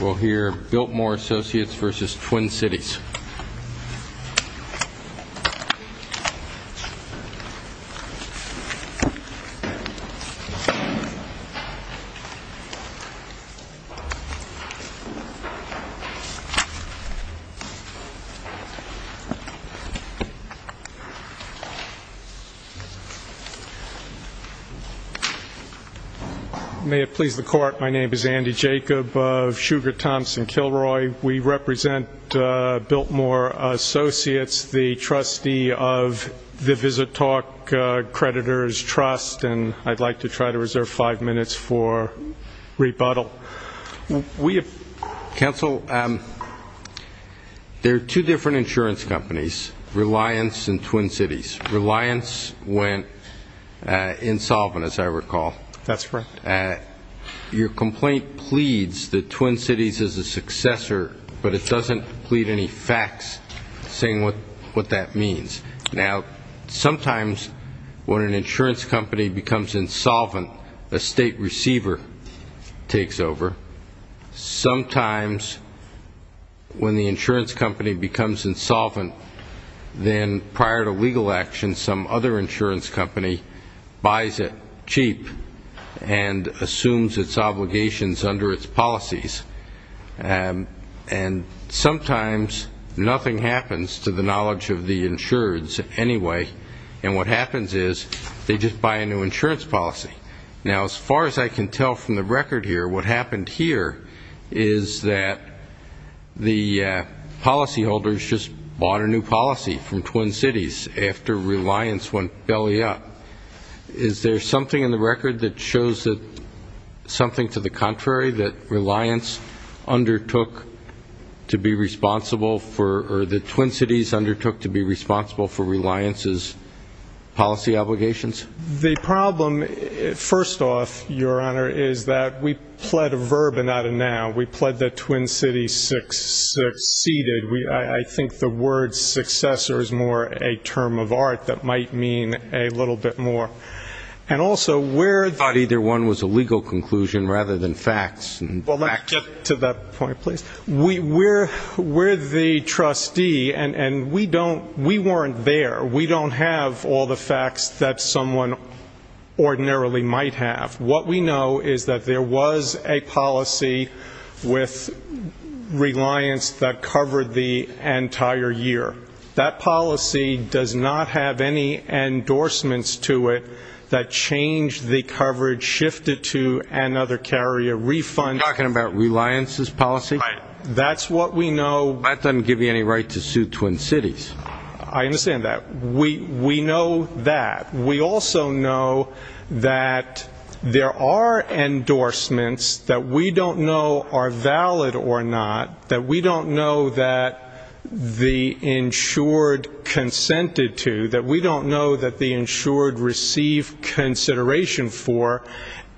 We'll hear Biltmore Associates v. Twin Cities. May it please the Court, my name is Andy Jacob of Sugar Thompson Kilroy. We represent Biltmore Associates, the trustee of the VisitTalk Creditors Trust, and I'd like to try to reserve five minutes for rebuttal. Counsel, there are two different insurance companies, Reliance and Twin Cities. Reliance went insolvent, as I recall. That's correct. Your complaint pleads that Twin Cities is a successor, but it doesn't plead any facts saying what that means. Now, sometimes when an insurance company becomes insolvent, a state receiver takes over. Sometimes when the insurance company becomes insolvent, then prior to legal action some other insurance company buys it cheap and assumes its obligations under its policies. And sometimes nothing happens to the knowledge of the insureds anyway, and what happens is they just buy a new insurance policy. Now, as far as I can tell from the record here, what happened here is that the policyholders just bought a new policy from Twin Cities after Reliance went belly up. Is there something in the record that shows that something to the contrary, that Reliance undertook to be responsible for or that Twin Cities undertook to be responsible for Reliance's policy obligations? The problem, first off, Your Honor, is that we pled a verbena to now. We pled that Twin Cities succeeded. I think the word successor is more a term of art that might mean a little bit more. And also, we're Thought either one was a legal conclusion rather than facts. Well, let me get to that point, please. We're the trustee, and we weren't there. We don't have all the facts that someone ordinarily might have. What we know is that there was a policy with Reliance that covered the entire year. That policy does not have any endorsements to it that changed the coverage, shifted to another carrier refund. You're talking about Reliance's policy? Right. That's what we know. That doesn't give you any right to sue Twin Cities. I understand that. We know that. We also know that there are endorsements that we don't know are valid or not, that we don't know that the insured consented to, that we don't know that the insured received consideration for,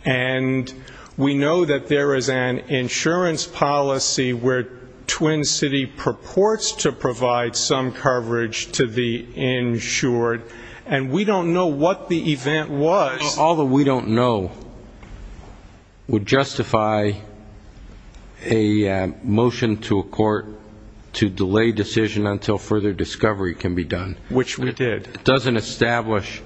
and we know that there is an insurance policy where Twin City purports to provide some coverage to the insured, and we don't know what the event was. All that we don't know would justify a motion to a court to delay decision until further discovery can be done. Which we did. It doesn't establish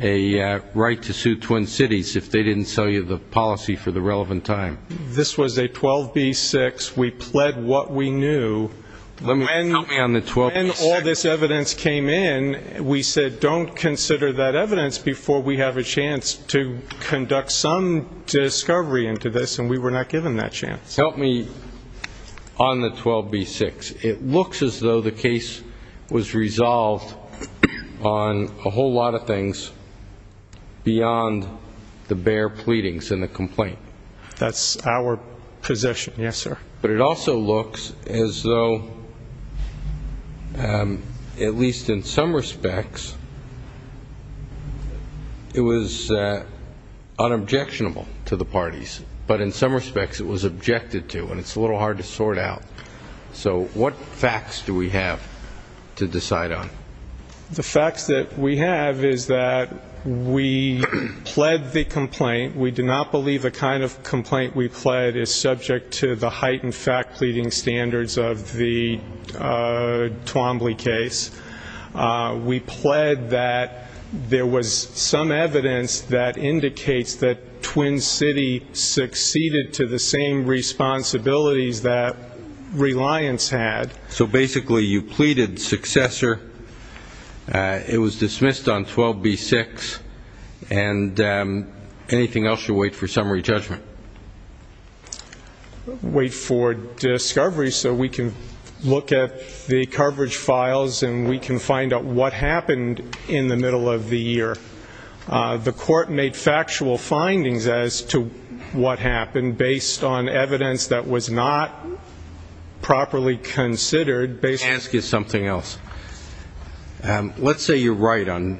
a right to sue Twin Cities if they didn't sell you the policy for the relevant time. This was a 12B6. We pled what we knew. Help me on the 12B6. When all this evidence came in, we said, don't consider that evidence before we have a chance to conduct some discovery into this, and we were not given that chance. Help me on the 12B6. It looks as though the case was resolved on a whole lot of things beyond the bare pleadings and the complaint. That's our position. Yes, sir. But it also looks as though, at least in some respects, it was unobjectionable to the parties, but in some respects it was objected to, and it's a little hard to sort out. So what facts do we have to decide on? The facts that we have is that we pled the complaint. We do not believe the kind of complaint we pled is subject to the heightened fact-pleading standards of the Twombly case. We pled that there was some evidence that indicates that Twin City succeeded to the same responsibilities that Reliance had. So basically you pleaded successor, it was dismissed on 12B6, and anything else should wait for summary judgment. Wait for discovery so we can look at the coverage files and we can find out what happened in the middle of the year. The court made factual findings as to what happened, based on evidence that was not properly considered. Ask you something else. Let's say you're right on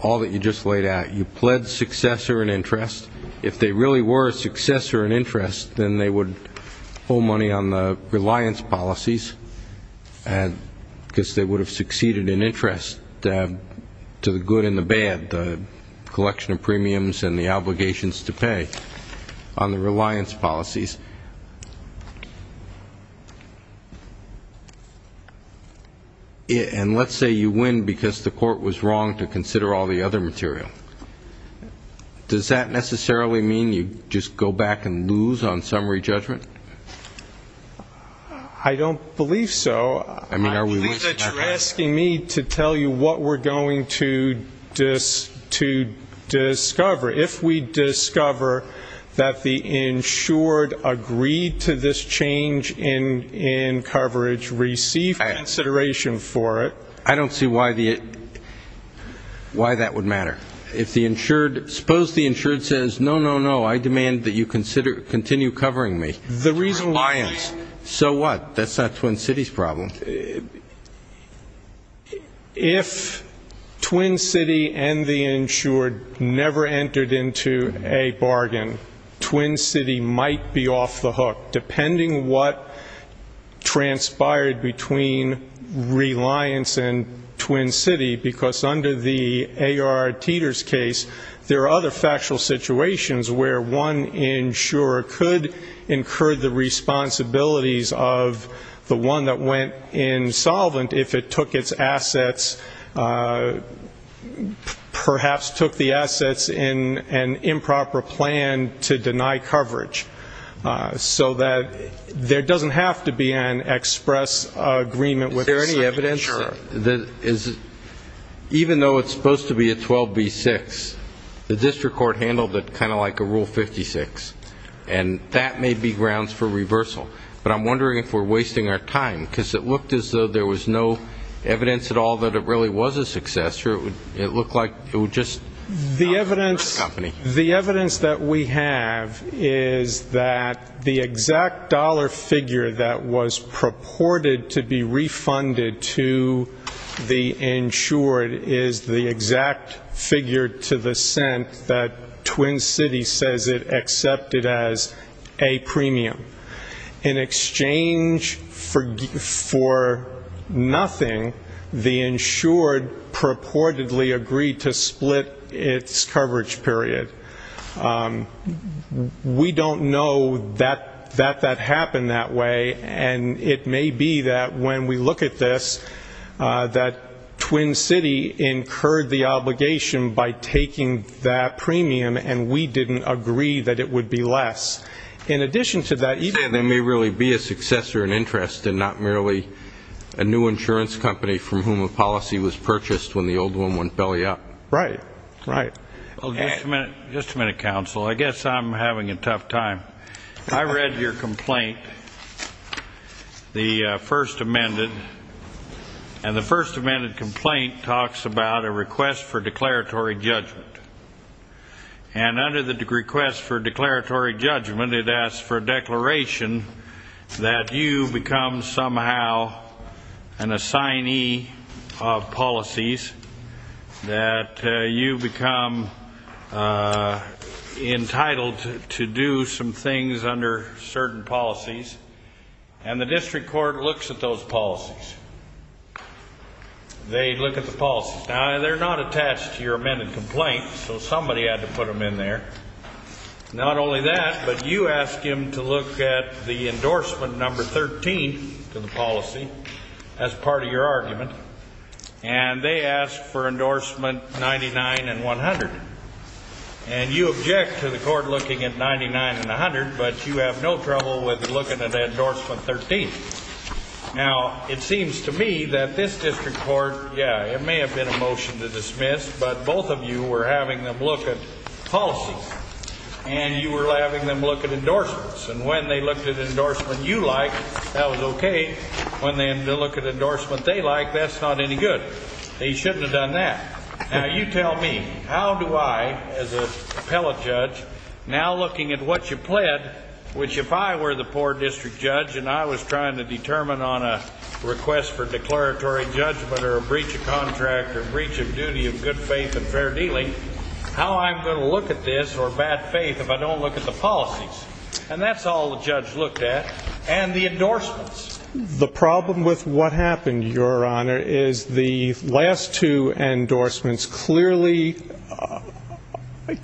all that you just laid out. You pled successor in interest. If they really were a successor in interest, then they would owe money on the Reliance policies, because they would have succeeded in interest to the good and the bad, the collection of premiums and the obligations to pay on the Reliance policies. And let's say you win because the court was wrong to consider all the other material. Does that necessarily mean you just go back and lose on summary judgment? I don't believe so. I believe that you're asking me to tell you what we're going to discover. If we discover that the insured agreed to this change in coverage, receive consideration for it. I don't see why that would matter. Suppose the insured says, no, no, no, I demand that you continue covering me. Reliance. If Twin City and the insured never entered into a bargain, Twin City might be off the hook, depending what transpired between Reliance and Twin City, because under the A.R. Teeter's case, there are other factual situations where one insurer could incur the responsibilities of the one that went insolvent if it took its assets, perhaps took the assets in an improper plan to deny coverage, so that there doesn't have to be an express agreement with the insurer. Is there any evidence that even though it's supposed to be a 12B6, the district court handled it kind of like a Rule 56, and that may be grounds for reversal. But I'm wondering if we're wasting our time, because it looked as though there was no evidence at all that it really was a success, or it looked like it was just another company. The evidence that we have is that the exact dollar figure that was purported to be refunded to the insured is the exact figure to the cent that Twin City says it accepted as a premium. In exchange for nothing, the insured purportedly agreed to split its coverage period. We don't know that that happened that way, and it may be that when we look at this, that Twin City incurred the obligation by taking that premium, and we didn't agree that it would be less. In addition to that, there may really be a successor in interest and not merely a new insurance company from whom a policy was purchased when the old one went belly up. Right, right. Just a minute, counsel. I guess I'm having a tough time. I read your complaint, the first amended, and the first amended complaint talks about a request for declaratory judgment. And under the request for declaratory judgment, it asks for a declaration that you become somehow an assignee of policies, that you become entitled to do some things under certain policies, and the district court looks at those policies. They look at the policies. Now, they're not attached to your amended complaint, so somebody had to put them in there. Not only that, but you ask him to look at the endorsement number 13 to the policy as part of your argument, and they ask for endorsement 99 and 100. And you object to the court looking at 99 and 100, but you have no trouble with looking at endorsement 13. Now, it seems to me that this district court, yeah, it may have been a motion to dismiss, but both of you were having them look at policies, and you were having them look at endorsements. And when they looked at endorsement you liked, that was okay. When they looked at endorsement they liked, that's not any good. They shouldn't have done that. Now, you tell me, how do I, as an appellate judge, now looking at what you pled, which if I were the poor district judge and I was trying to determine on a request for declaratory judgment or a breach of contract or a breach of duty of good faith and fair dealing, how I'm going to look at this or bad faith if I don't look at the policies? And that's all the judge looked at. And the endorsements? The problem with what happened, Your Honor, is the last two endorsements clearly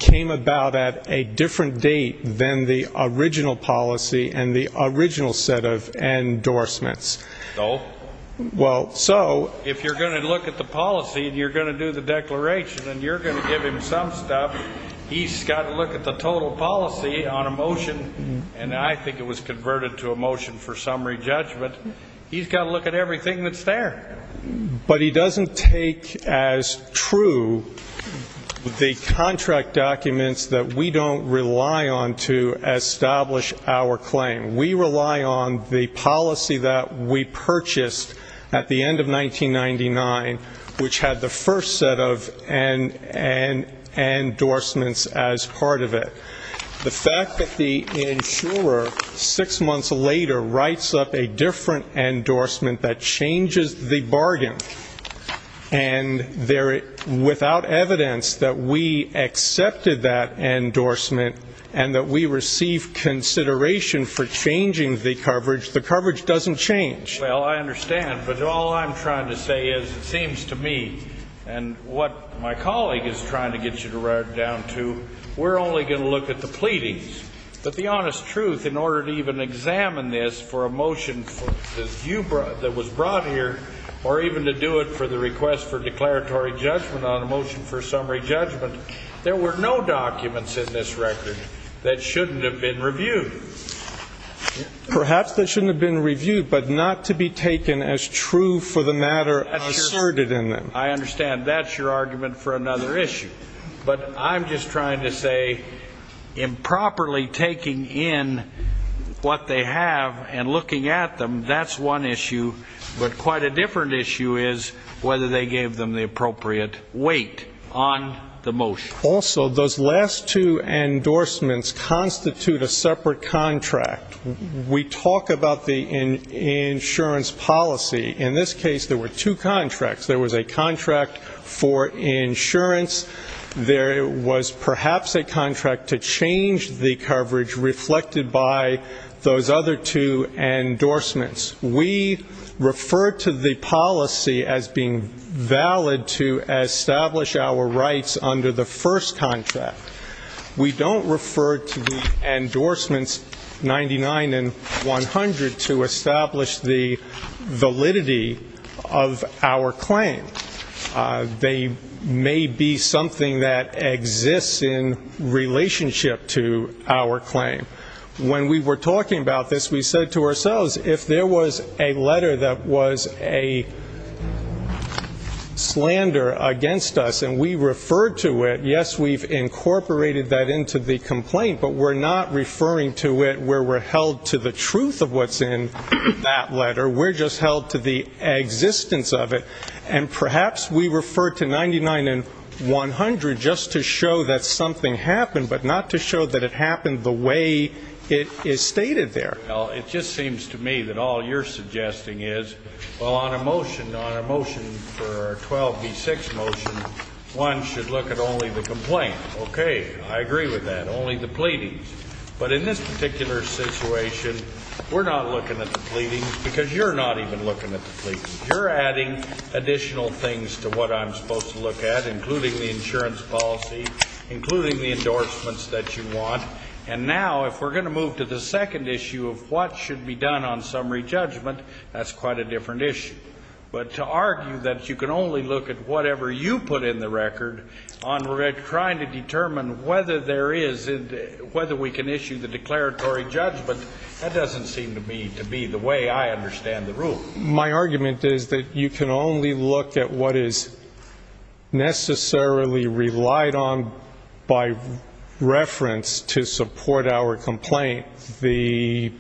came about at a different date than the original policy and the original set of endorsements. So? Well, so. If you're going to look at the policy and you're going to do the declaration and you're going to give him some stuff, he's got to look at the total policy on a motion, and I think it was converted to a motion for summary judgment. He's got to look at everything that's there. But he doesn't take as true the contract documents that we don't rely on to establish our claim. We rely on the policy that we purchased at the end of 1999, which had the first set of endorsements as part of it. The fact that the insurer, six months later, writes up a different endorsement that changes the bargain, and without evidence that we accepted that endorsement and that we received consideration for changing the coverage, the coverage doesn't change. Well, I understand, but all I'm trying to say is it seems to me, and what my colleague is trying to get you to write it down to, we're only going to look at the pleadings. But the honest truth, in order to even examine this for a motion that was brought here or even to do it for the request for declaratory judgment on a motion for summary judgment, there were no documents in this record that shouldn't have been reviewed. Perhaps they shouldn't have been reviewed, but not to be taken as true for the matter asserted in them. I understand. That's your argument for another issue. But I'm just trying to say improperly taking in what they have and looking at them, that's one issue. But quite a different issue is whether they gave them the appropriate weight on the motion. Also, those last two endorsements constitute a separate contract. We talk about the insurance policy. In this case, there were two contracts. There was a contract for insurance. There was perhaps a contract to change the coverage reflected by those other two endorsements. We refer to the policy as being valid to establish our rights under the first contract. We don't refer to the endorsements 99 and 100 to establish the validity of our claim. They may be something that exists in relationship to our claim. When we were talking about this, we said to ourselves, if there was a letter that was a slander against us and we referred to it, yes, we've incorporated that into the complaint, but we're not referring to it where we're held to the truth of what's in that letter. We're just held to the existence of it. And perhaps we refer to 99 and 100 just to show that something happened, but not to show that it happened the way it is stated there. It just seems to me that all you're suggesting is, well, on a motion, on a motion for a 12B6 motion, one should look at only the complaint. Okay, I agree with that, only the pleadings. But in this particular situation, we're not looking at the pleadings because you're not even looking at the pleadings. You're adding additional things to what I'm supposed to look at, including the insurance policy, including the endorsements that you want. And now, if we're going to move to the second issue of what should be done on summary judgment, that's quite a different issue. But to argue that you can only look at whatever you put in the record on trying to determine whether we can issue the declaratory judgment, that doesn't seem to me to be the way I understand the rule. My argument is that you can only look at what is necessarily relied on by reference to support our complaint. The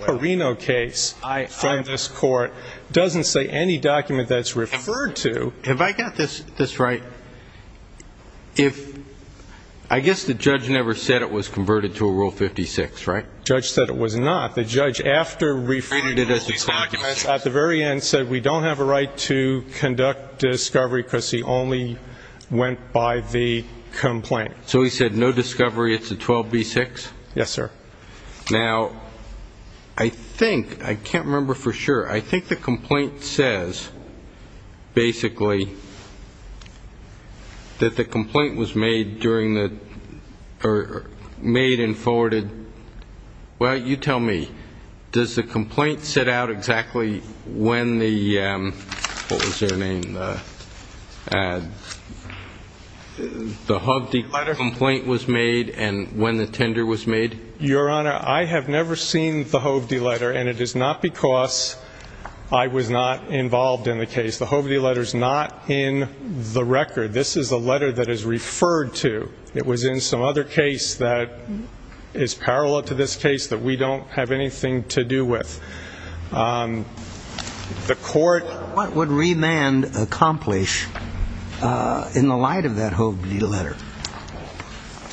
Perino case from this court doesn't say any document that's referred to. Have I got this right? I guess the judge never said it was converted to a Rule 56, right? The judge said it was not. The judge, after referring to all these documents, at the very end, said we don't have a right to conduct discovery because he only went by the complaint. So he said no discovery, it's a 12B6? Yes, sir. Now, I think, I can't remember for sure, I think the complaint says, basically, that the complaint was made and forwarded. Well, you tell me. Does the complaint set out exactly when the, what was their name, the Hovde letter complaint was made and when the tender was made? Your Honor, I have never seen the Hovde letter, and it is not because I was not involved in the case. The Hovde letter is not in the record. This is a letter that is referred to. It was in some other case that is parallel to this case that we don't have anything to do with. What would remand accomplish in the light of that Hovde letter?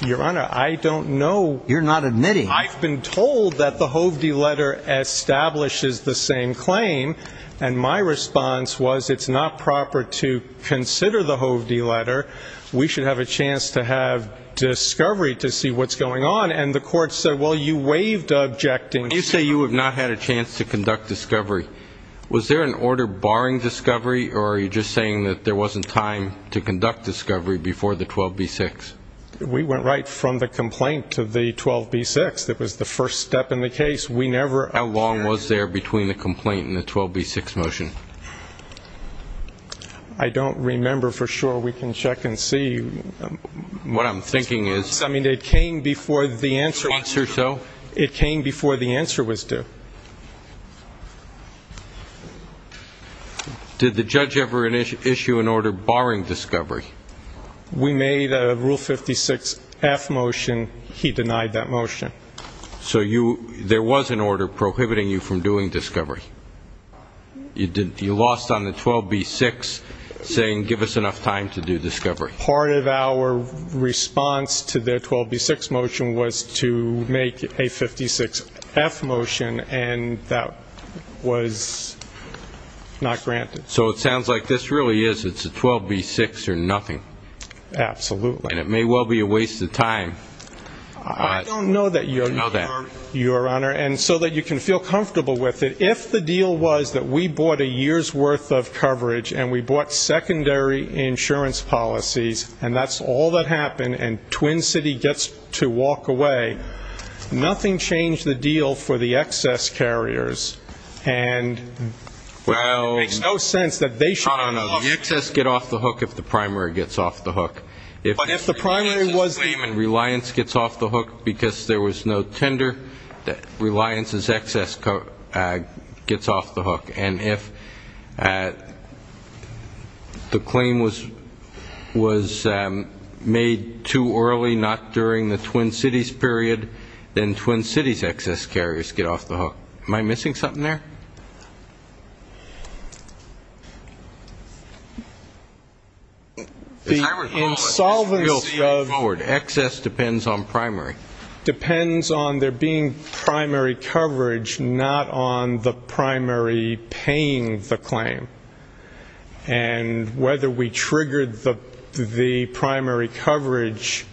Your Honor, I don't know. You're not admitting. I've been told that the Hovde letter establishes the same claim, and my response was it's not proper to consider the Hovde letter. We should have a chance to have discovery to see what's going on. And the court said, well, you waived objecting. When you say you have not had a chance to conduct discovery, was there an order barring discovery, or are you just saying that there wasn't time to conduct discovery before the 12b-6? We went right from the complaint to the 12b-6. That was the first step in the case. How long was there between the complaint and the 12b-6 motion? I don't remember for sure. We can check and see. What I'm thinking is. I mean, it came before the answer. Once or so. It came before the answer was due. Did the judge ever issue an order barring discovery? We made a Rule 56-F motion. He denied that motion. So there was an order prohibiting you from doing discovery. You lost on the 12b-6 saying give us enough time to do discovery. Part of our response to the 12b-6 motion was to make a 56-F motion, and that was not granted. So it sounds like this really is, it's a 12b-6 or nothing. Absolutely. And it may well be a waste of time. I don't know that, Your Honor. And so that you can feel comfortable with it, if the deal was that we bought a year's worth of coverage and we bought secondary insurance policies, and that's all that happened and Twin City gets to walk away, nothing changed the deal for the excess carriers. And it makes no sense that they should get off the hook. The excess get off the hook if the primary gets off the hook. If the primary was the claimant, Reliance gets off the hook because there was no tender. Reliance's excess gets off the hook. And if the claim was made too early, not during the Twin Cities period, then Twin Cities' excess carriers get off the hook. Am I missing something there? The insolvency of excess depends on primary. not on the primary paying the claim. And whether we triggered the primary coverage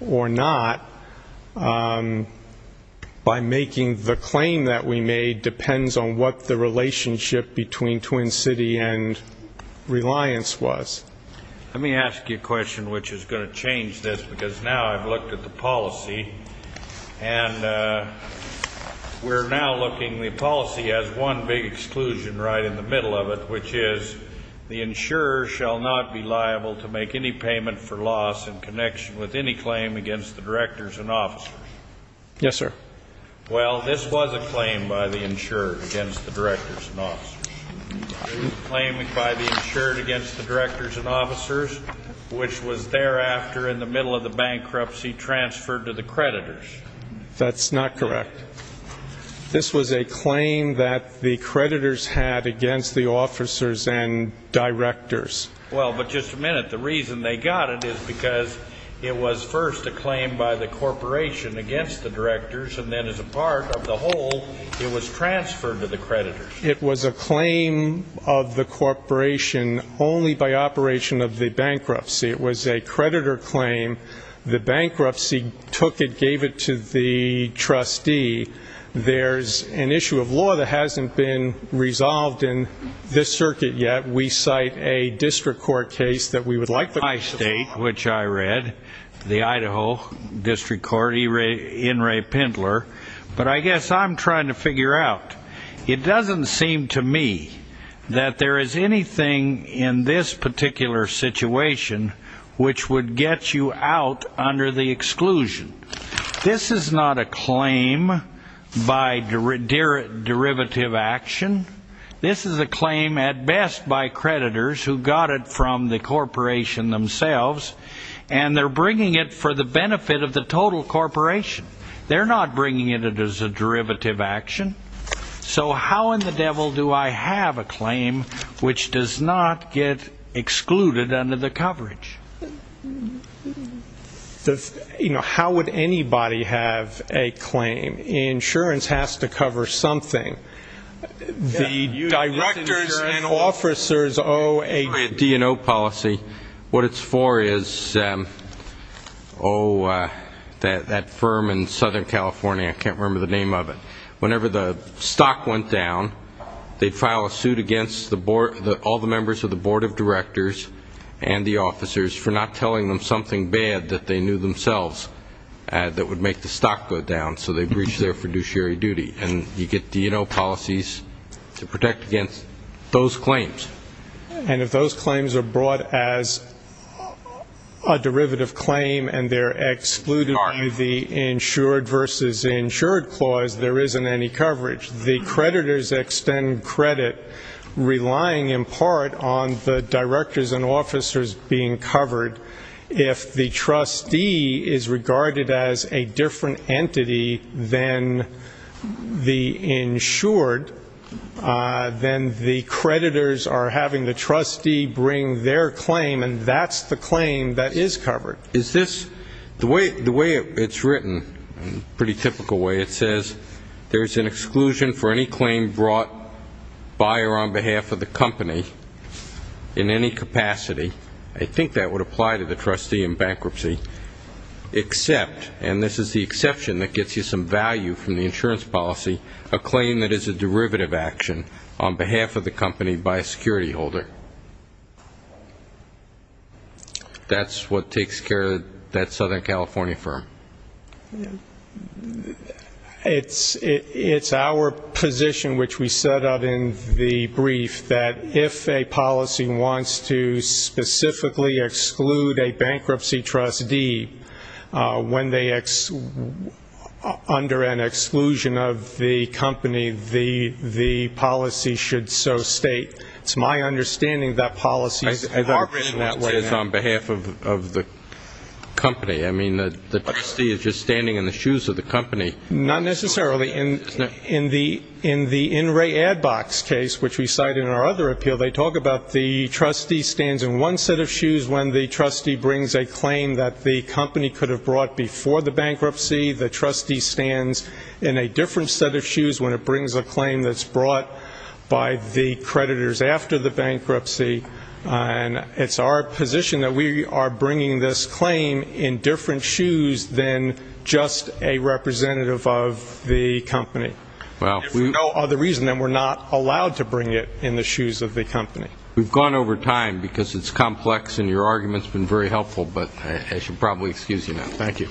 or not, by making the claim that we made depends on what the relationship between Twin City and Reliance was. Let me ask you a question which is going to change this, because now I've looked at the policy and we're now looking, the policy has one big exclusion right in the middle of it, which is the insurer shall not be liable to make any payment for loss in connection with any claim against the directors and officers. Yes, sir. Well, this was a claim by the insurer against the directors and officers. It was a claim by the insurer against the directors and officers, which was thereafter in the middle of the bankruptcy transferred to the creditors. That's not correct. This was a claim that the creditors had against the officers and directors. Well, but just a minute. The reason they got it is because it was first a claim by the corporation against the directors, and then as a part of the whole, it was transferred to the creditors. It was a claim of the corporation only by operation of the bankruptcy. It was a creditor claim. The bankruptcy took it, gave it to the trustee. There's an issue of law that hasn't been resolved in this circuit yet. We cite a district court case that we would like to discuss. My state, which I read, the Idaho District Court, In re Pendler, but I guess I'm trying to figure out. It doesn't seem to me that there is anything in this particular situation which would get you out under the exclusion. This is not a claim by derivative action. This is a claim at best by creditors who got it from the corporation themselves, and they're bringing it for the benefit of the total corporation. They're not bringing it as a derivative action. So how in the devil do I have a claim which does not get excluded under the coverage? You know, how would anybody have a claim? Insurance has to cover something. The directors and officers owe a credit. What it's for is, oh, that firm in Southern California, I can't remember the name of it. Whenever the stock went down, they'd file a suit against all the members of the board of directors and the officers for not telling them something bad that they knew themselves that would make the stock go down. So they breached their fiduciary duty. And you get D&O policies to protect against those claims. And if those claims are brought as a derivative claim and they're excluded under the insured versus insured clause, there isn't any coverage. The creditors extend credit, relying in part on the directors and officers being covered. If the trustee is regarded as a different entity than the insured, then the creditors are having the trustee bring their claim, and that's the claim that is covered. Is this, the way it's written, pretty typical way, it says, there's an exclusion for any claim brought by or on behalf of the company in any capacity. I think that would apply to the trustee in bankruptcy. Except, and this is the exception that gets you some value from the insurance policy, a claim that is a derivative action on behalf of the company by a security holder. That's what takes care of that Southern California firm. It's our position, which we set up in the brief, that if a policy wants to specifically exclude a bankruptcy trustee when they, under an exclusion of the company, the policy should so state. It's my understanding that policies are written that way. It's on behalf of the company. I mean, the trustee is just standing in the shoes of the company. Not necessarily. In the In Re Ad Box case, which we cite in our other appeal, they talk about the trustee stands in one set of shoes when the trustee brings a claim that the company could have brought before the bankruptcy. The trustee stands in a different set of shoes when it brings a claim that's brought by the creditors after the bankruptcy. And it's our position that we are bringing this claim in different shoes than just a representative of the company. If for no other reason, then we're not allowed to bring it in the shoes of the company. We've gone over time because it's complex, and your argument's been very helpful. But I should probably excuse you now. Thank you.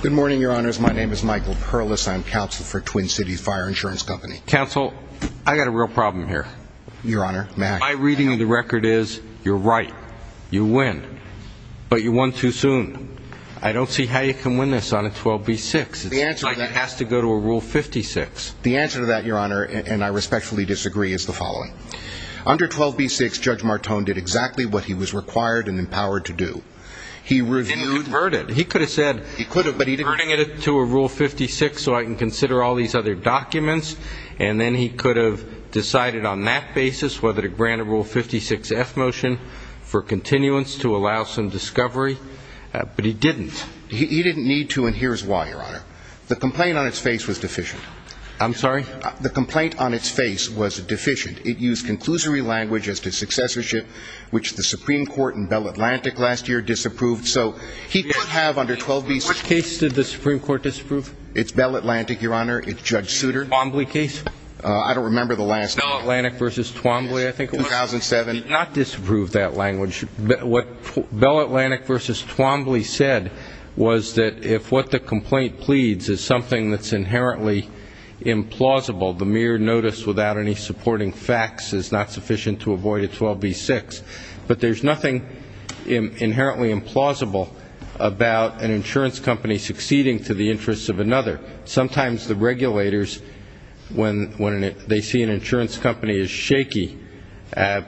Good morning, Your Honors. My name is Michael Perlis. I'm counsel for Twin Cities Fire Insurance Company. Counsel, I've got a real problem here. Your Honor, may I? My reading of the record is you're right. You win. But you won too soon. I don't see how you can win this on a 12B6. It's like it has to go to a Rule 56. The answer to that, Your Honor, and I respectfully disagree, is the following. Under 12B6, Judge Martone did exactly what he was required and empowered to do. He reviewed. And converted. He could have said converting it to a Rule 56 so I can consider all these other documents. And then he could have decided on that basis whether to grant a Rule 56F motion for continuance to allow some discovery. But he didn't. He didn't need to, and here's why, Your Honor. The complaint on its face was deficient. I'm sorry? The complaint on its face was deficient. It used conclusory language as to successorship, which the Supreme Court in Bell Atlantic last year disapproved. So he could have under 12B6. Which case did the Supreme Court disapprove? It's Bell Atlantic, Your Honor. It's Judge Souter. Twombly case? I don't remember the last one. Bell Atlantic v. Twombly, I think it was. 2007. It did not disapprove that language. What Bell Atlantic v. Twombly said was that if what the complaint pleads is something that's inherently implausible, the mere notice without any supporting facts is not sufficient to avoid a 12B6. But there's nothing inherently implausible about an insurance company succeeding to the interests of another. Sometimes the regulators, when they see an insurance company is shaky,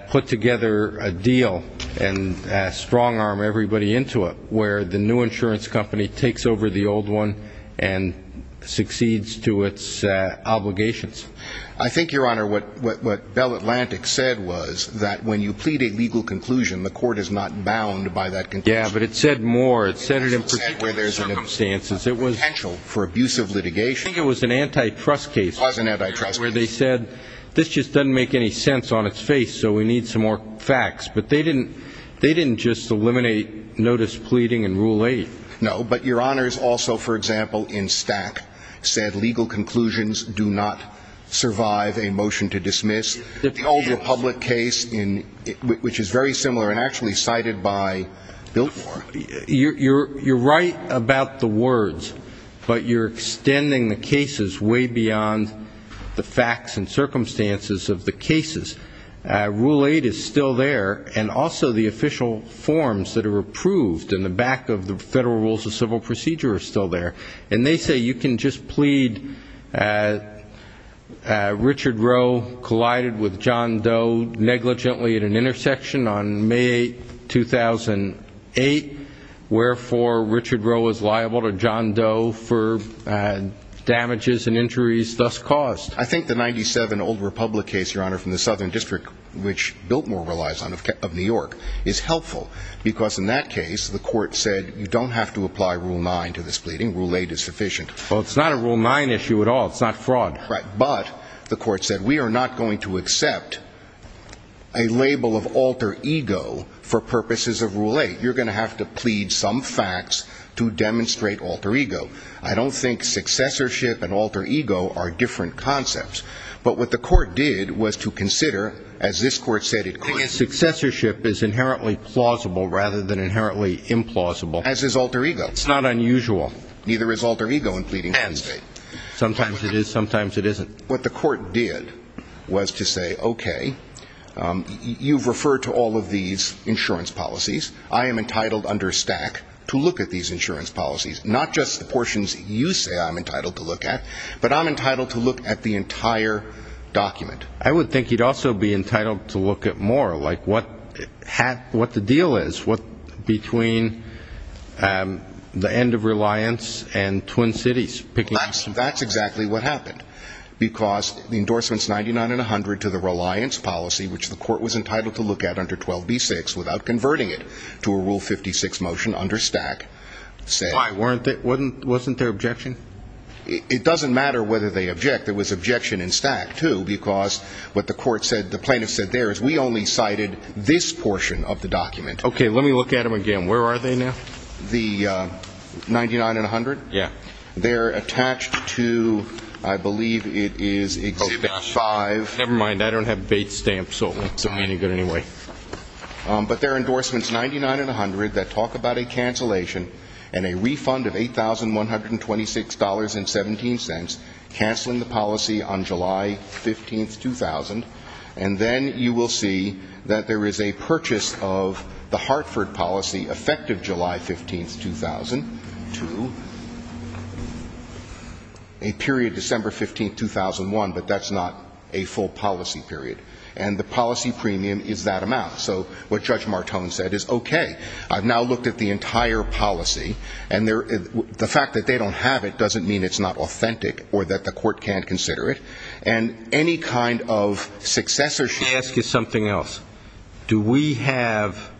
put together a deal and strong-arm everybody into it, where the new insurance company takes over the old one and succeeds to its obligations. I think, Your Honor, what Bell Atlantic said was that when you plead a legal conclusion, the court is not bound by that conclusion. Yeah, but it said more. I think it was an antitrust case. It was an antitrust case. Where they said, this just doesn't make any sense on its face, so we need some more facts. But they didn't just eliminate notice pleading and Rule 8. No, but Your Honors also, for example, in Stack, said legal conclusions do not survive a motion to dismiss. The old Republic case, which is very similar and actually cited by Biltmore. You're right about the words, but you're extending the cases way beyond the facts and circumstances of the cases. Rule 8 is still there, and also the official forms that are approved in the back of the Federal Rules of Civil Procedure are still there. And they say you can just plead Richard Rowe collided with John Doe negligently at an intersection on May 8, 2008. Wherefore, Richard Rowe is liable to John Doe for damages and injuries thus caused. I think the 97 Old Republic case, Your Honor, from the Southern District, which Biltmore relies on, of New York, is helpful. Because in that case, the Court said you don't have to apply Rule 9 to this pleading. Rule 8 is sufficient. Well, it's not a Rule 9 issue at all. It's not fraud. Right. But the Court said we are not going to accept a label of alter ego for purposes of Rule 8. You're going to have to plead some facts to demonstrate alter ego. I don't think successorship and alter ego are different concepts. But what the Court did was to consider, as this Court said it couldn't. I think successorship is inherently plausible rather than inherently implausible. As is alter ego. It's not unusual. Neither is alter ego in pleading. Sometimes it is, sometimes it isn't. What the Court did was to say, okay, you've referred to all of these insurance policies. I am entitled under stack to look at these insurance policies, not just the portions you say I'm entitled to look at, but I'm entitled to look at the entire document. I would think you'd also be entitled to look at more, like what the deal is between the end of Reliance and Twin Cities. That's exactly what happened, because the endorsements 99 and 100 to the Reliance policy, which the Court was entitled to look at under 12b-6 without converting it to a Rule 56 motion under stack. Wasn't there objection? It doesn't matter whether they object. There was objection in stack, too, because what the plaintiff said there is we only cited this portion of the document. Okay. Let me look at them again. Where are they now? The 99 and 100? Yeah. They're attached to, I believe it is Exhibit 5. Oh, gosh. Never mind. I don't have Bates stamps, so it won't do me any good anyway. But there are endorsements 99 and 100 that talk about a cancellation and a refund of $8,126.17, canceling the policy on July 15, 2000, and then you will see that there is a purchase of the Hartford policy, effective July 15, 2002, a period December 15, 2001, but that's not a full policy period. And the policy premium is that amount. So what Judge Martone said is okay. I've now looked at the entire policy, and the fact that they don't have it doesn't mean it's not authentic or that the court can't consider it. And any kind of successorship ---- Let me ask you something else. Do we have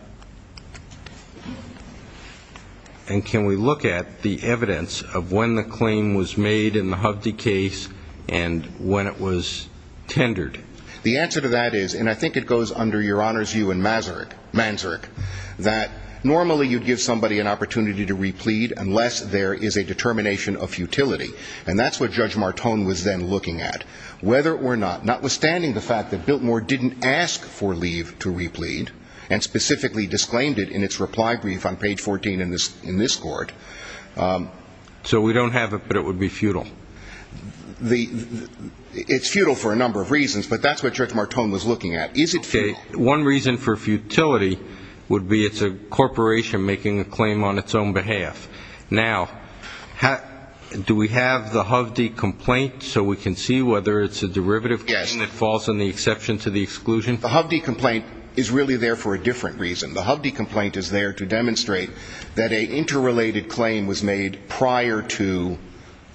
and can we look at the evidence of when the claim was made in the Hovde case and when it was tendered? The answer to that is, and I think it goes under Your Honor's view in Manzurk, that normally you'd give somebody an opportunity to replead unless there is a determination of futility. And that's what Judge Martone was then looking at. Whether or not, notwithstanding the fact that Biltmore didn't ask for leave to replead and specifically disclaimed it in its reply brief on page 14 in this court ---- So we don't have it, but it would be futile. It's futile for a number of reasons, but that's what Judge Martone was looking at. Is it futile? One reason for futility would be it's a corporation making a claim on its own behalf. Now, do we have the Hovde complaint so we can see whether it's a derivative claim that falls in the exception to the exclusion? The Hovde complaint is really there for a different reason. The Hovde complaint is there to demonstrate that an interrelated claim was made prior to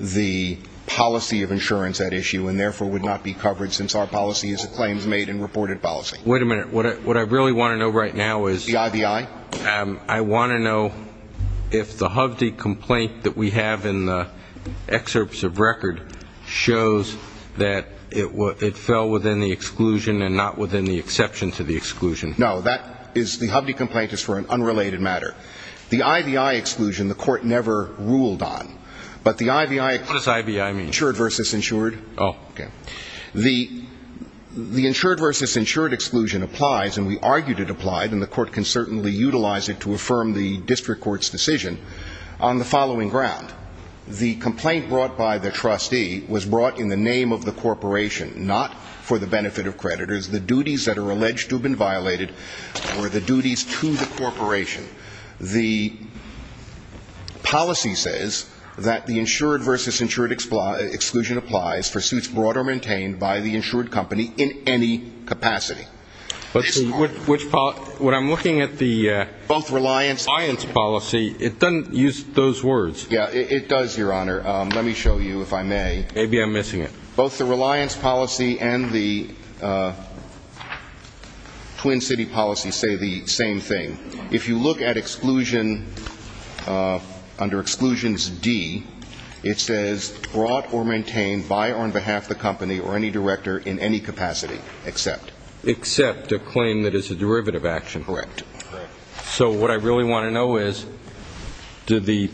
the policy of insurance at issue and therefore would not be covered since our policy is a claims made and reported policy. Wait a minute. What I really want to know right now is ---- The IVI? I want to know if the Hovde complaint that we have in the excerpts of record shows that it fell within the exclusion and not within the exception to the exclusion. No, the Hovde complaint is for an unrelated matter. The IVI exclusion the court never ruled on, but the IVI ---- What does IVI mean? Insured versus insured. Oh. Okay. The insured versus insured exclusion applies, and we argued it applied, and the court can certainly utilize it to affirm the district court's decision on the following ground. The complaint brought by the trustee was brought in the name of the corporation, not for the benefit of creditors. The duties that are alleged to have been violated were the duties to the corporation. The policy says that the insured versus insured exclusion applies for suits brought or maintained by the insured company in any capacity. Which policy? What I'm looking at the ---- Both reliance ---- Reliance policy. It doesn't use those words. Yeah, it does, Your Honor. Let me show you, if I may. Maybe I'm missing it. Both the reliance policy and the Twin City policy say the same thing. If you look at exclusion under Exclusions D, it says brought or maintained by or on behalf of the company or any director in any capacity, except. Except a claim that is a derivative action. Correct. So what I really want to know is, did the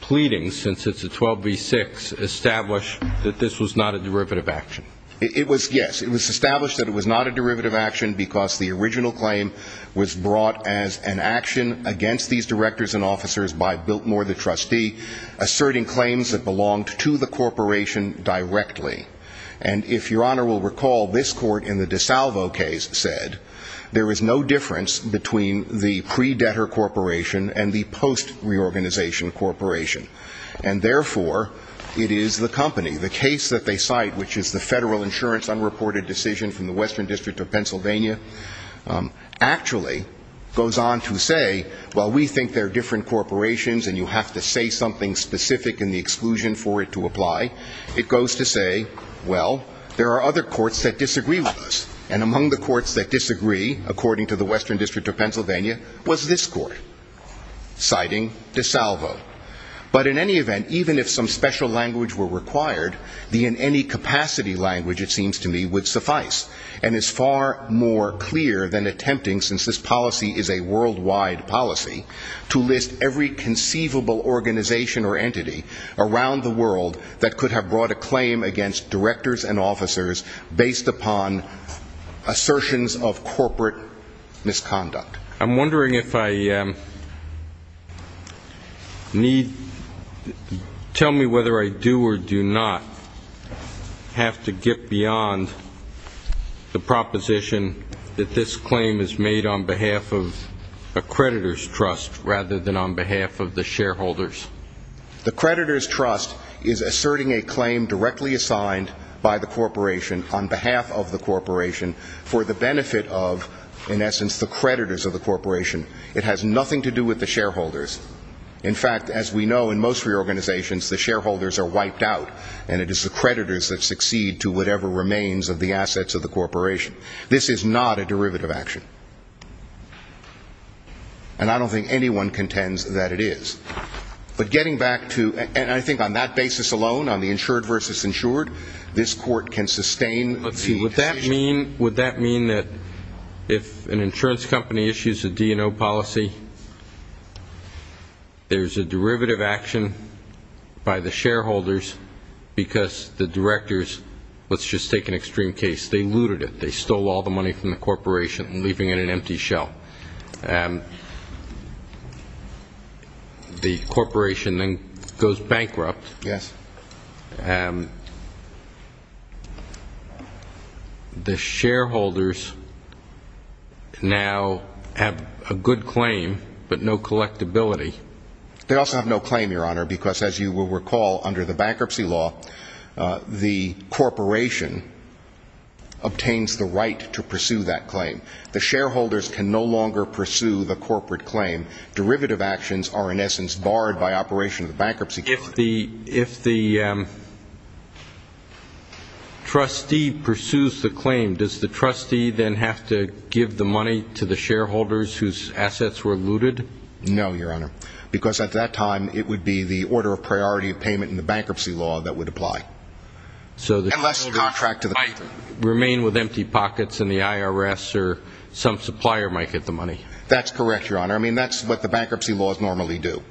pleading, since it's a 12B6, establish that this was not a derivative action? It was, yes. It was established that it was not a derivative action because the original claim was brought as an action against these directors and officers by Biltmore, the trustee, asserting claims that belonged to the corporation directly. And if Your Honor will recall, this court in the DeSalvo case said there is no difference between the pre-debtor corporation and the post-reorganization corporation. And, therefore, it is the company. The case that they cite, which is the Federal Insurance Unreported Decision from the Western District of Pennsylvania, actually goes on to say, well, we think they're different corporations and you have to say something specific in the exclusion for it to apply. It goes to say, well, there are other courts that disagree with us. And among the courts that disagree, according to the Western District of Pennsylvania, was this court, citing DeSalvo. But in any event, even if some special language were required, the in any capacity language, it seems to me, would suffice and is far more clear than attempting, since this policy is a worldwide policy, to list every conceivable organization or entity around the world that could have brought a claim against directors and officers based upon assertions of corporate misconduct. I'm wondering if I need to tell me whether I do or do not have to get beyond the proposition that this claim is made on behalf of a creditors' trust rather than on behalf of the shareholders. The creditors' trust is asserting a claim directly assigned by the corporation on behalf of the corporation for the benefit of, in essence, the creditors of the corporation. It has nothing to do with the shareholders. In fact, as we know, in most reorganizations, the shareholders are wiped out and it is the creditors that succeed to whatever remains of the assets of the corporation. This is not a derivative action. And I don't think anyone contends that it is. But getting back to, and I think on that basis alone, on the insured versus insured, this court can sustain the decision. Would that mean that if an insurance company issues a D&O policy, there's a derivative action by the shareholders because the directors, let's just take an extreme case, they looted it. They stole all the money from the corporation, leaving it in an empty shell. The corporation then goes bankrupt. Yes. The shareholders now have a good claim but no collectability. They also have no claim, Your Honor, because, as you will recall, under the bankruptcy law, the corporation obtains the right to pursue that claim. The shareholders can no longer pursue the corporate claim. Derivative actions are, in essence, barred by operation of the bankruptcy court. If the trustee pursues the claim, does the trustee then have to give the money to the shareholders whose assets were looted? No, Your Honor, because at that time it would be the order of priority of payment in the bankruptcy law that would apply. So the shareholders might remain with empty pockets and the IRS or some supplier might get the money. That's correct, Your Honor. I mean, that's what the bankruptcy laws normally do.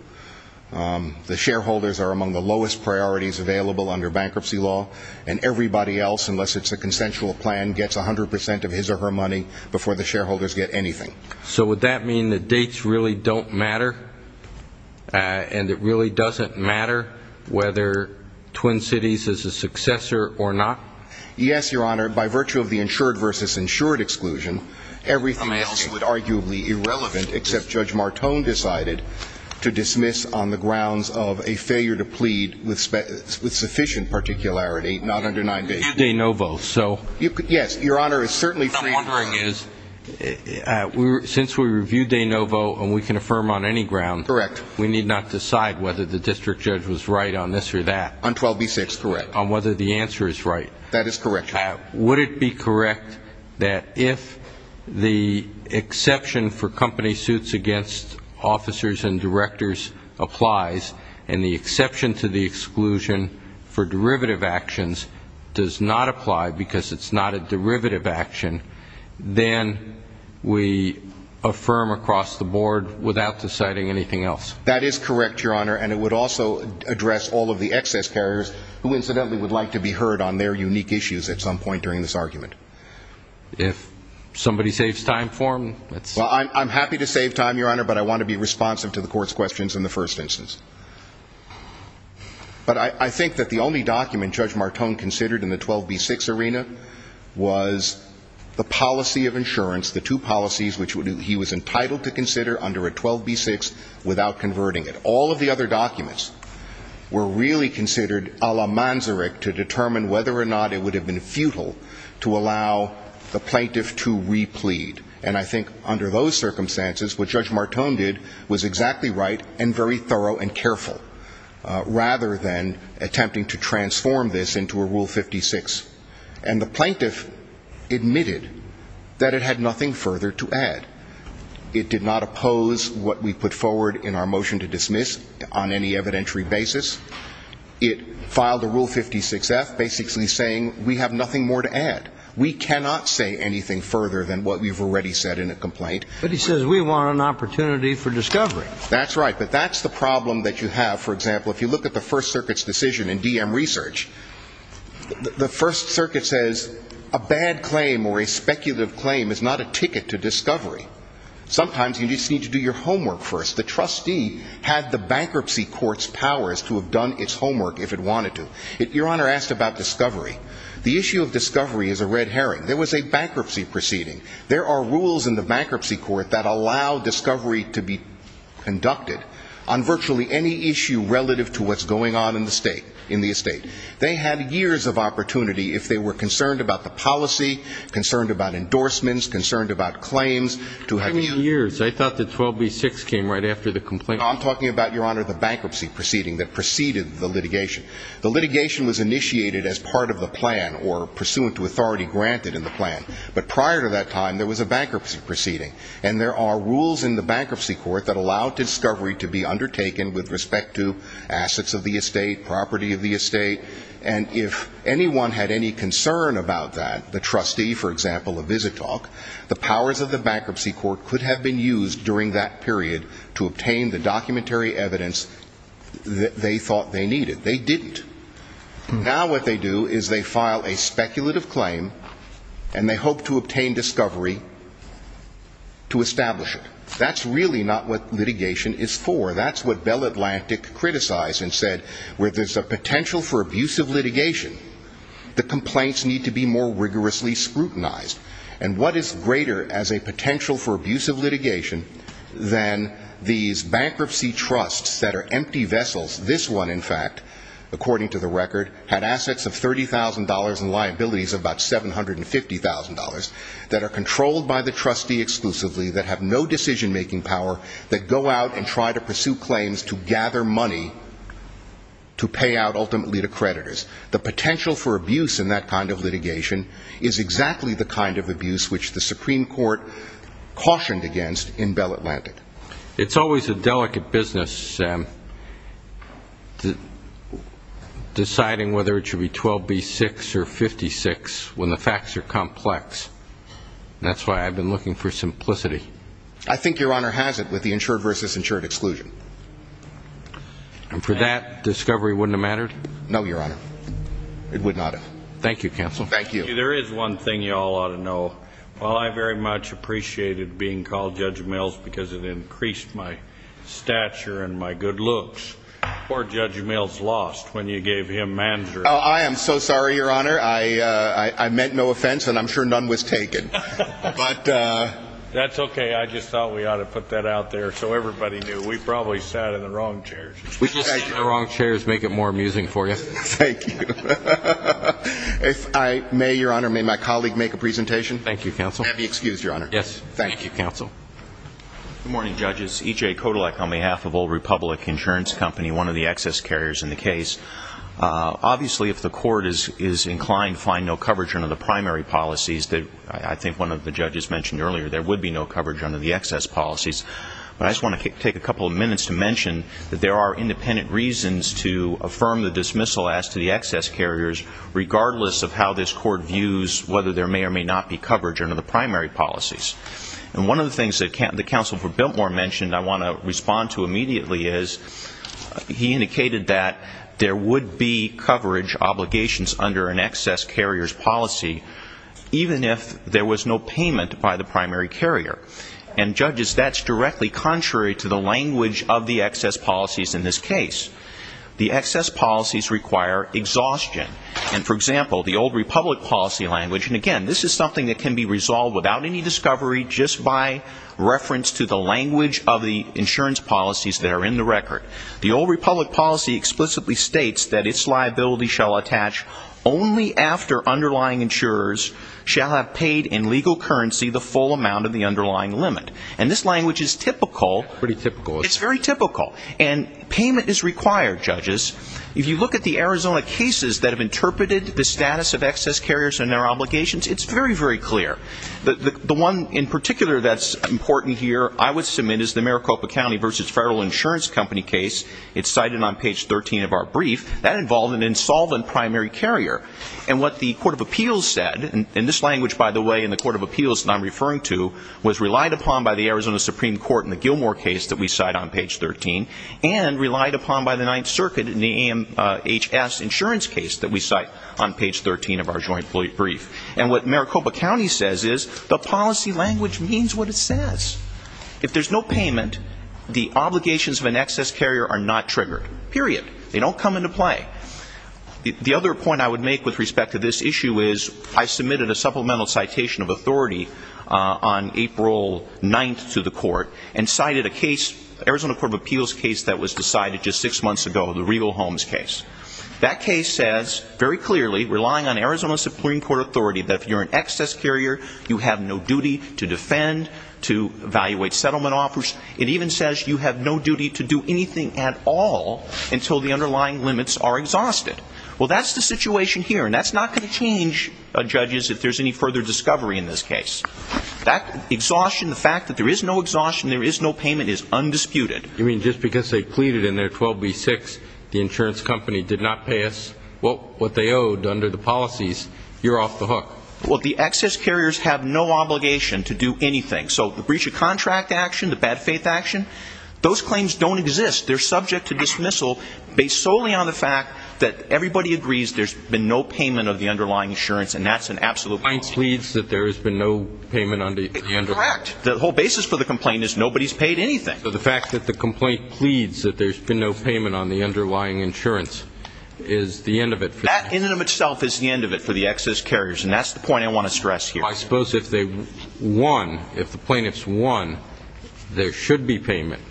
The shareholders are among the lowest priorities available under bankruptcy law, and everybody else, unless it's a consensual plan, gets 100 percent of his or her money before the shareholders get anything. So would that mean that dates really don't matter and it really doesn't matter whether Twin Cities is a successor or not? Yes, Your Honor. By virtue of the insured versus insured exclusion, everything else would arguably be irrelevant, except Judge Martone decided to dismiss on the grounds of a failure to plead with sufficient particularity, not under 9B. Day Novo, so? Yes, Your Honor. What I'm wondering is, since we reviewed Day Novo and we can affirm on any ground, we need not decide whether the district judge was right on this or that. On 12B6, correct. On whether the answer is right. That is correct, Your Honor. Would it be correct that if the exception for company suits against officers and directors applies and the exception to the exclusion for derivative actions does not apply because it's not a derivative action, then we affirm across the board without deciding anything else? That is correct, Your Honor, and it would also address all of the excess carriers who, incidentally, would like to be heard on their unique issues at some point during this argument. If somebody saves time for them. Well, I'm happy to save time, Your Honor, but I want to be responsive to the Court's questions in the first instance. But I think that the only document Judge Martone considered in the 12B6 arena was the policy of insurance, the two policies which he was entitled to consider under a 12B6 without converting it. All of the other documents were really considered a la Manzarek to determine whether or not it would have been futile to allow the plaintiff to replead. And I think under those circumstances what Judge Martone did was exactly right and very thorough and careful rather than attempting to transform this into a Rule 56. And the plaintiff admitted that it had nothing further to add. It did not oppose what we put forward in our motion to dismiss on any evidentiary basis. It filed a Rule 56F basically saying we have nothing more to add. We cannot say anything further than what we've already said in a complaint. But he says we want an opportunity for discovery. That's right, but that's the problem that you have. For example, if you look at the First Circuit's decision in DM Research, the First Circuit says a bad claim or a speculative claim is not a ticket to discovery. Sometimes you just need to do your homework first. The trustee had the bankruptcy court's powers to have done its homework if it wanted to. Your Honor asked about discovery. The issue of discovery is a red herring. There was a bankruptcy proceeding. There are rules in the bankruptcy court that allow discovery to be conducted on virtually any issue relative to what's going on in the estate. They had years of opportunity if they were concerned about the policy, concerned about endorsements, concerned about claims. How many years? I thought that 12b-6 came right after the complaint. I'm talking about, Your Honor, the bankruptcy proceeding that preceded the litigation. The litigation was initiated as part of the plan or pursuant to authority granted in the plan. But prior to that time, there was a bankruptcy proceeding. And there are rules in the bankruptcy court that allow discovery to be undertaken with respect to assets of the estate, property of the estate. And if anyone had any concern about that, the trustee, for example, of Visitalk, the powers of the bankruptcy court could have been used during that period to obtain the documentary evidence that they thought they needed. They didn't. Now what they do is they file a speculative claim, and they hope to obtain discovery to establish it. That's really not what litigation is for. That's what Bell Atlantic criticized and said. Where there's a potential for abusive litigation, the complaints need to be more rigorously scrutinized. And what is greater as a potential for abusive litigation than these bankruptcy trusts that are empty vessels? This one, in fact, according to the record, had assets of $30,000 and liabilities of about $750,000 that are controlled by the trustee exclusively, that have no decision-making power, that go out and try to pursue claims to gather money to pay out ultimately to creditors. The potential for abuse in that kind of litigation is exactly the kind of abuse which the Supreme Court cautioned against in Bell Atlantic. It's always a delicate business, Sam, deciding whether it should be 12B6 or 56 when the facts are complex. That's why I've been looking for simplicity. I think Your Honor has it with the insured versus insured exclusion. And for that, discovery wouldn't have mattered? No, Your Honor. It would not have. Thank you, counsel. Thank you. There is one thing you all ought to know. While I very much appreciated being called Judge Mills because it increased my stature and my good looks, poor Judge Mills lost when you gave him manager. Oh, I am so sorry, Your Honor. I meant no offense, and I'm sure none was taken. That's okay. I just thought we ought to put that out there so everybody knew. We probably sat in the wrong chairs. The wrong chairs make it more amusing for you. Thank you. May Your Honor, may my colleague make a presentation? Thank you, counsel. May I be excused, Your Honor? Yes. Thank you, counsel. Good morning, judges. E.J. Kotelek on behalf of Old Republic Insurance Company, one of the excess carriers in the case. Obviously, if the court is inclined to find no coverage under the primary policies, I think one of the judges mentioned earlier there would be no coverage under the excess policies, but I just want to take a couple of minutes to mention that there are independent reasons to affirm the dismissal as to the excess carriers regardless of how this court views whether there may or may not be coverage under the primary policies. And one of the things that the counsel for Biltmore mentioned I want to respond to immediately is he indicated that there would be coverage obligations under an excess carrier's policy even if there was no payment by the primary carrier. And, judges, that's directly contrary to the language of the excess policies in this case. The excess policies require exhaustion. And, for example, the Old Republic policy language and, again, this is something that can be resolved without any discovery just by reference to the language of the insurance policies that are in the record. The Old Republic policy explicitly states that its liability shall attach only after underlying insurers shall have paid in legal currency the full amount of the underlying limit. And this language is typical. Pretty typical. It's very typical. And payment is required, judges. If you look at the Arizona cases that have interpreted the status of excess carriers and their obligations, it's very, very clear. The one in particular that's important here I would submit is the Maricopa County v. Federal Insurance Company case. It's cited on page 13 of our brief. That involved an insolvent primary carrier. And what the Court of Appeals said, and this language, by the way, in the Court of Appeals that I'm referring to, was relied upon by the Arizona Supreme Court in the Gilmore case that we cite on page 13 and relied upon by the Ninth Circuit in the AMHS insurance case that we cite on page 13 of our joint brief. And what Maricopa County says is the policy language means what it says. If there's no payment, the obligations of an excess carrier are not triggered. Period. They don't come into play. The other point I would make with respect to this issue is I submitted a supplemental citation of authority on April 9th to the Court and cited a case, Arizona Court of Appeals case, that was decided just six months ago, the Regal Holmes case. That case says very clearly, relying on Arizona Supreme Court authority, that if you're an excess carrier, you have no duty to defend, to evaluate settlement offers. It even says you have no duty to do anything at all until the underlying limits are exhausted. Well, that's the situation here, and that's not going to change, judges, if there's any further discovery in this case. That exhaustion, the fact that there is no exhaustion, there is no payment, is undisputed. You mean just because they pleaded in their 12b-6, the insurance company did not pass what they owed under the policies, you're off the hook? Well, the excess carriers have no obligation to do anything. So the breach of contract action, the bad faith action, those claims don't exist. They're subject to dismissal based solely on the fact that everybody agrees there's been no payment of the underlying insurance, and that's an absolute policy. The client pleads that there has been no payment under the underlying. Correct. The whole basis for the complaint is nobody's paid anything. So the fact that the complaint pleads that there's been no payment on the underlying insurance is the end of it. That in and of itself is the end of it for the excess carriers, and that's the point I want to stress here. I suppose if they won, if the plaintiffs won, there should be payment,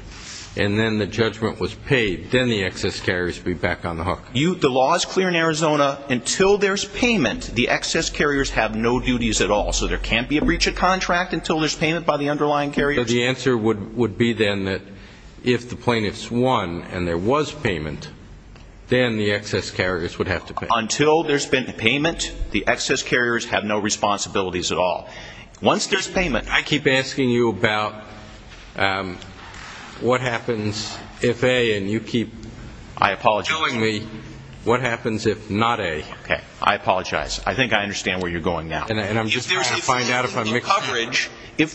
and then the judgment was paid, then the excess carriers would be back on the hook. The law is clear in Arizona. Until there's payment, the excess carriers have no duties at all. So there can't be a breach of contract until there's payment by the underlying carriers? The answer would be then that if the plaintiffs won and there was payment, then the excess carriers would have to pay. Until there's been payment, the excess carriers have no responsibilities at all. Once there's payment, I keep asking you about what happens if A, and you keep killing me, what happens if not A? Okay. I apologize. I think I understand where you're going now. If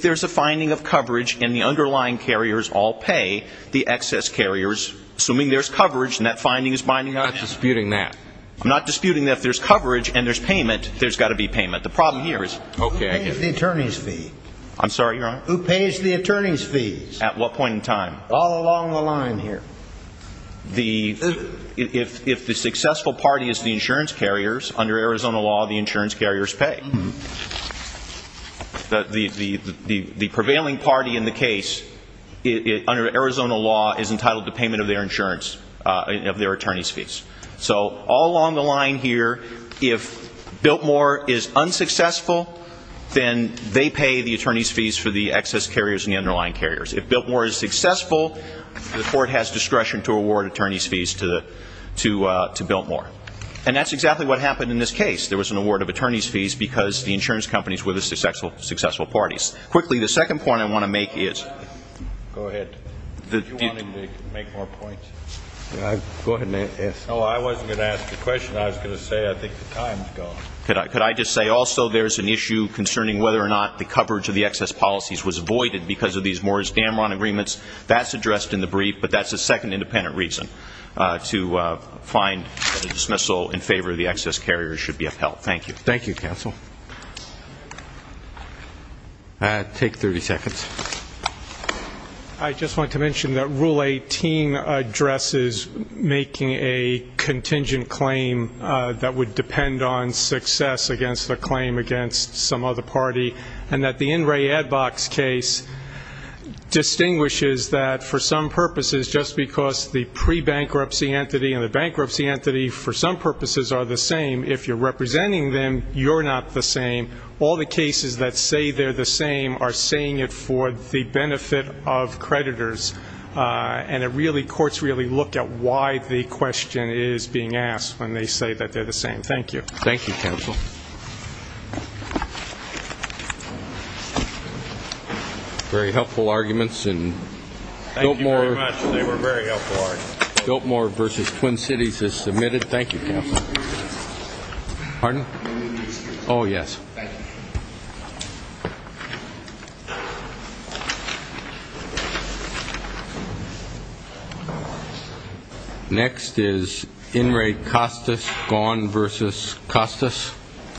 there's a finding of coverage and the underlying carriers all pay, the excess carriers, assuming there's coverage and that finding is binding on it. I'm not disputing that. I'm not disputing that if there's coverage and there's payment, there's got to be payment. The problem here is who pays the attorney's fee? I'm sorry, Your Honor? Who pays the attorney's fees? At what point in time? All along the line here. If the successful party is the insurance carriers, under Arizona law, the insurance carriers pay. The prevailing party in the case, under Arizona law, is entitled to payment of their insurance, of their attorney's fees. So all along the line here, if Biltmore is unsuccessful, then they pay the attorney's fees for the excess carriers and the underlying carriers. If Biltmore is successful, the court has discretion to award attorney's fees to Biltmore. And that's exactly what happened in this case. There was an award of attorney's fees because the insurance companies were the successful parties. Quickly, the second point I want to make is the ---- Go ahead. Did you want him to make more points? Go ahead and ask. No, I wasn't going to ask the question. I was going to say I think the time is gone. Could I just say also there is an issue concerning whether or not the coverage of the excess policies was avoided because of these Morris-Dameron agreements? That's addressed in the brief, but that's a second independent reason to find a dismissal in favor of the excess carriers should be upheld. Thank you. Thank you, counsel. Take 30 seconds. I just want to mention that Rule 18 addresses making a contingent claim that would depend on success against a claim against some other party and that the In Re Advox case distinguishes that for some purposes, just because the pre-bankruptcy entity and the bankruptcy entity for some purposes are the same, if you're representing them, you're not the same. All the cases that say they're the same are saying it for the benefit of creditors, and courts really look at why the question is being asked when they say that they're the same. Thank you. Thank you, counsel. Very helpful arguments. Thank you very much. They were very helpful arguments. Biltmore v. Twin Cities is submitted. Thank you, counsel. Pardon? Oh, yes. Thank you. Next is In Re Costas, Gone v. Costas.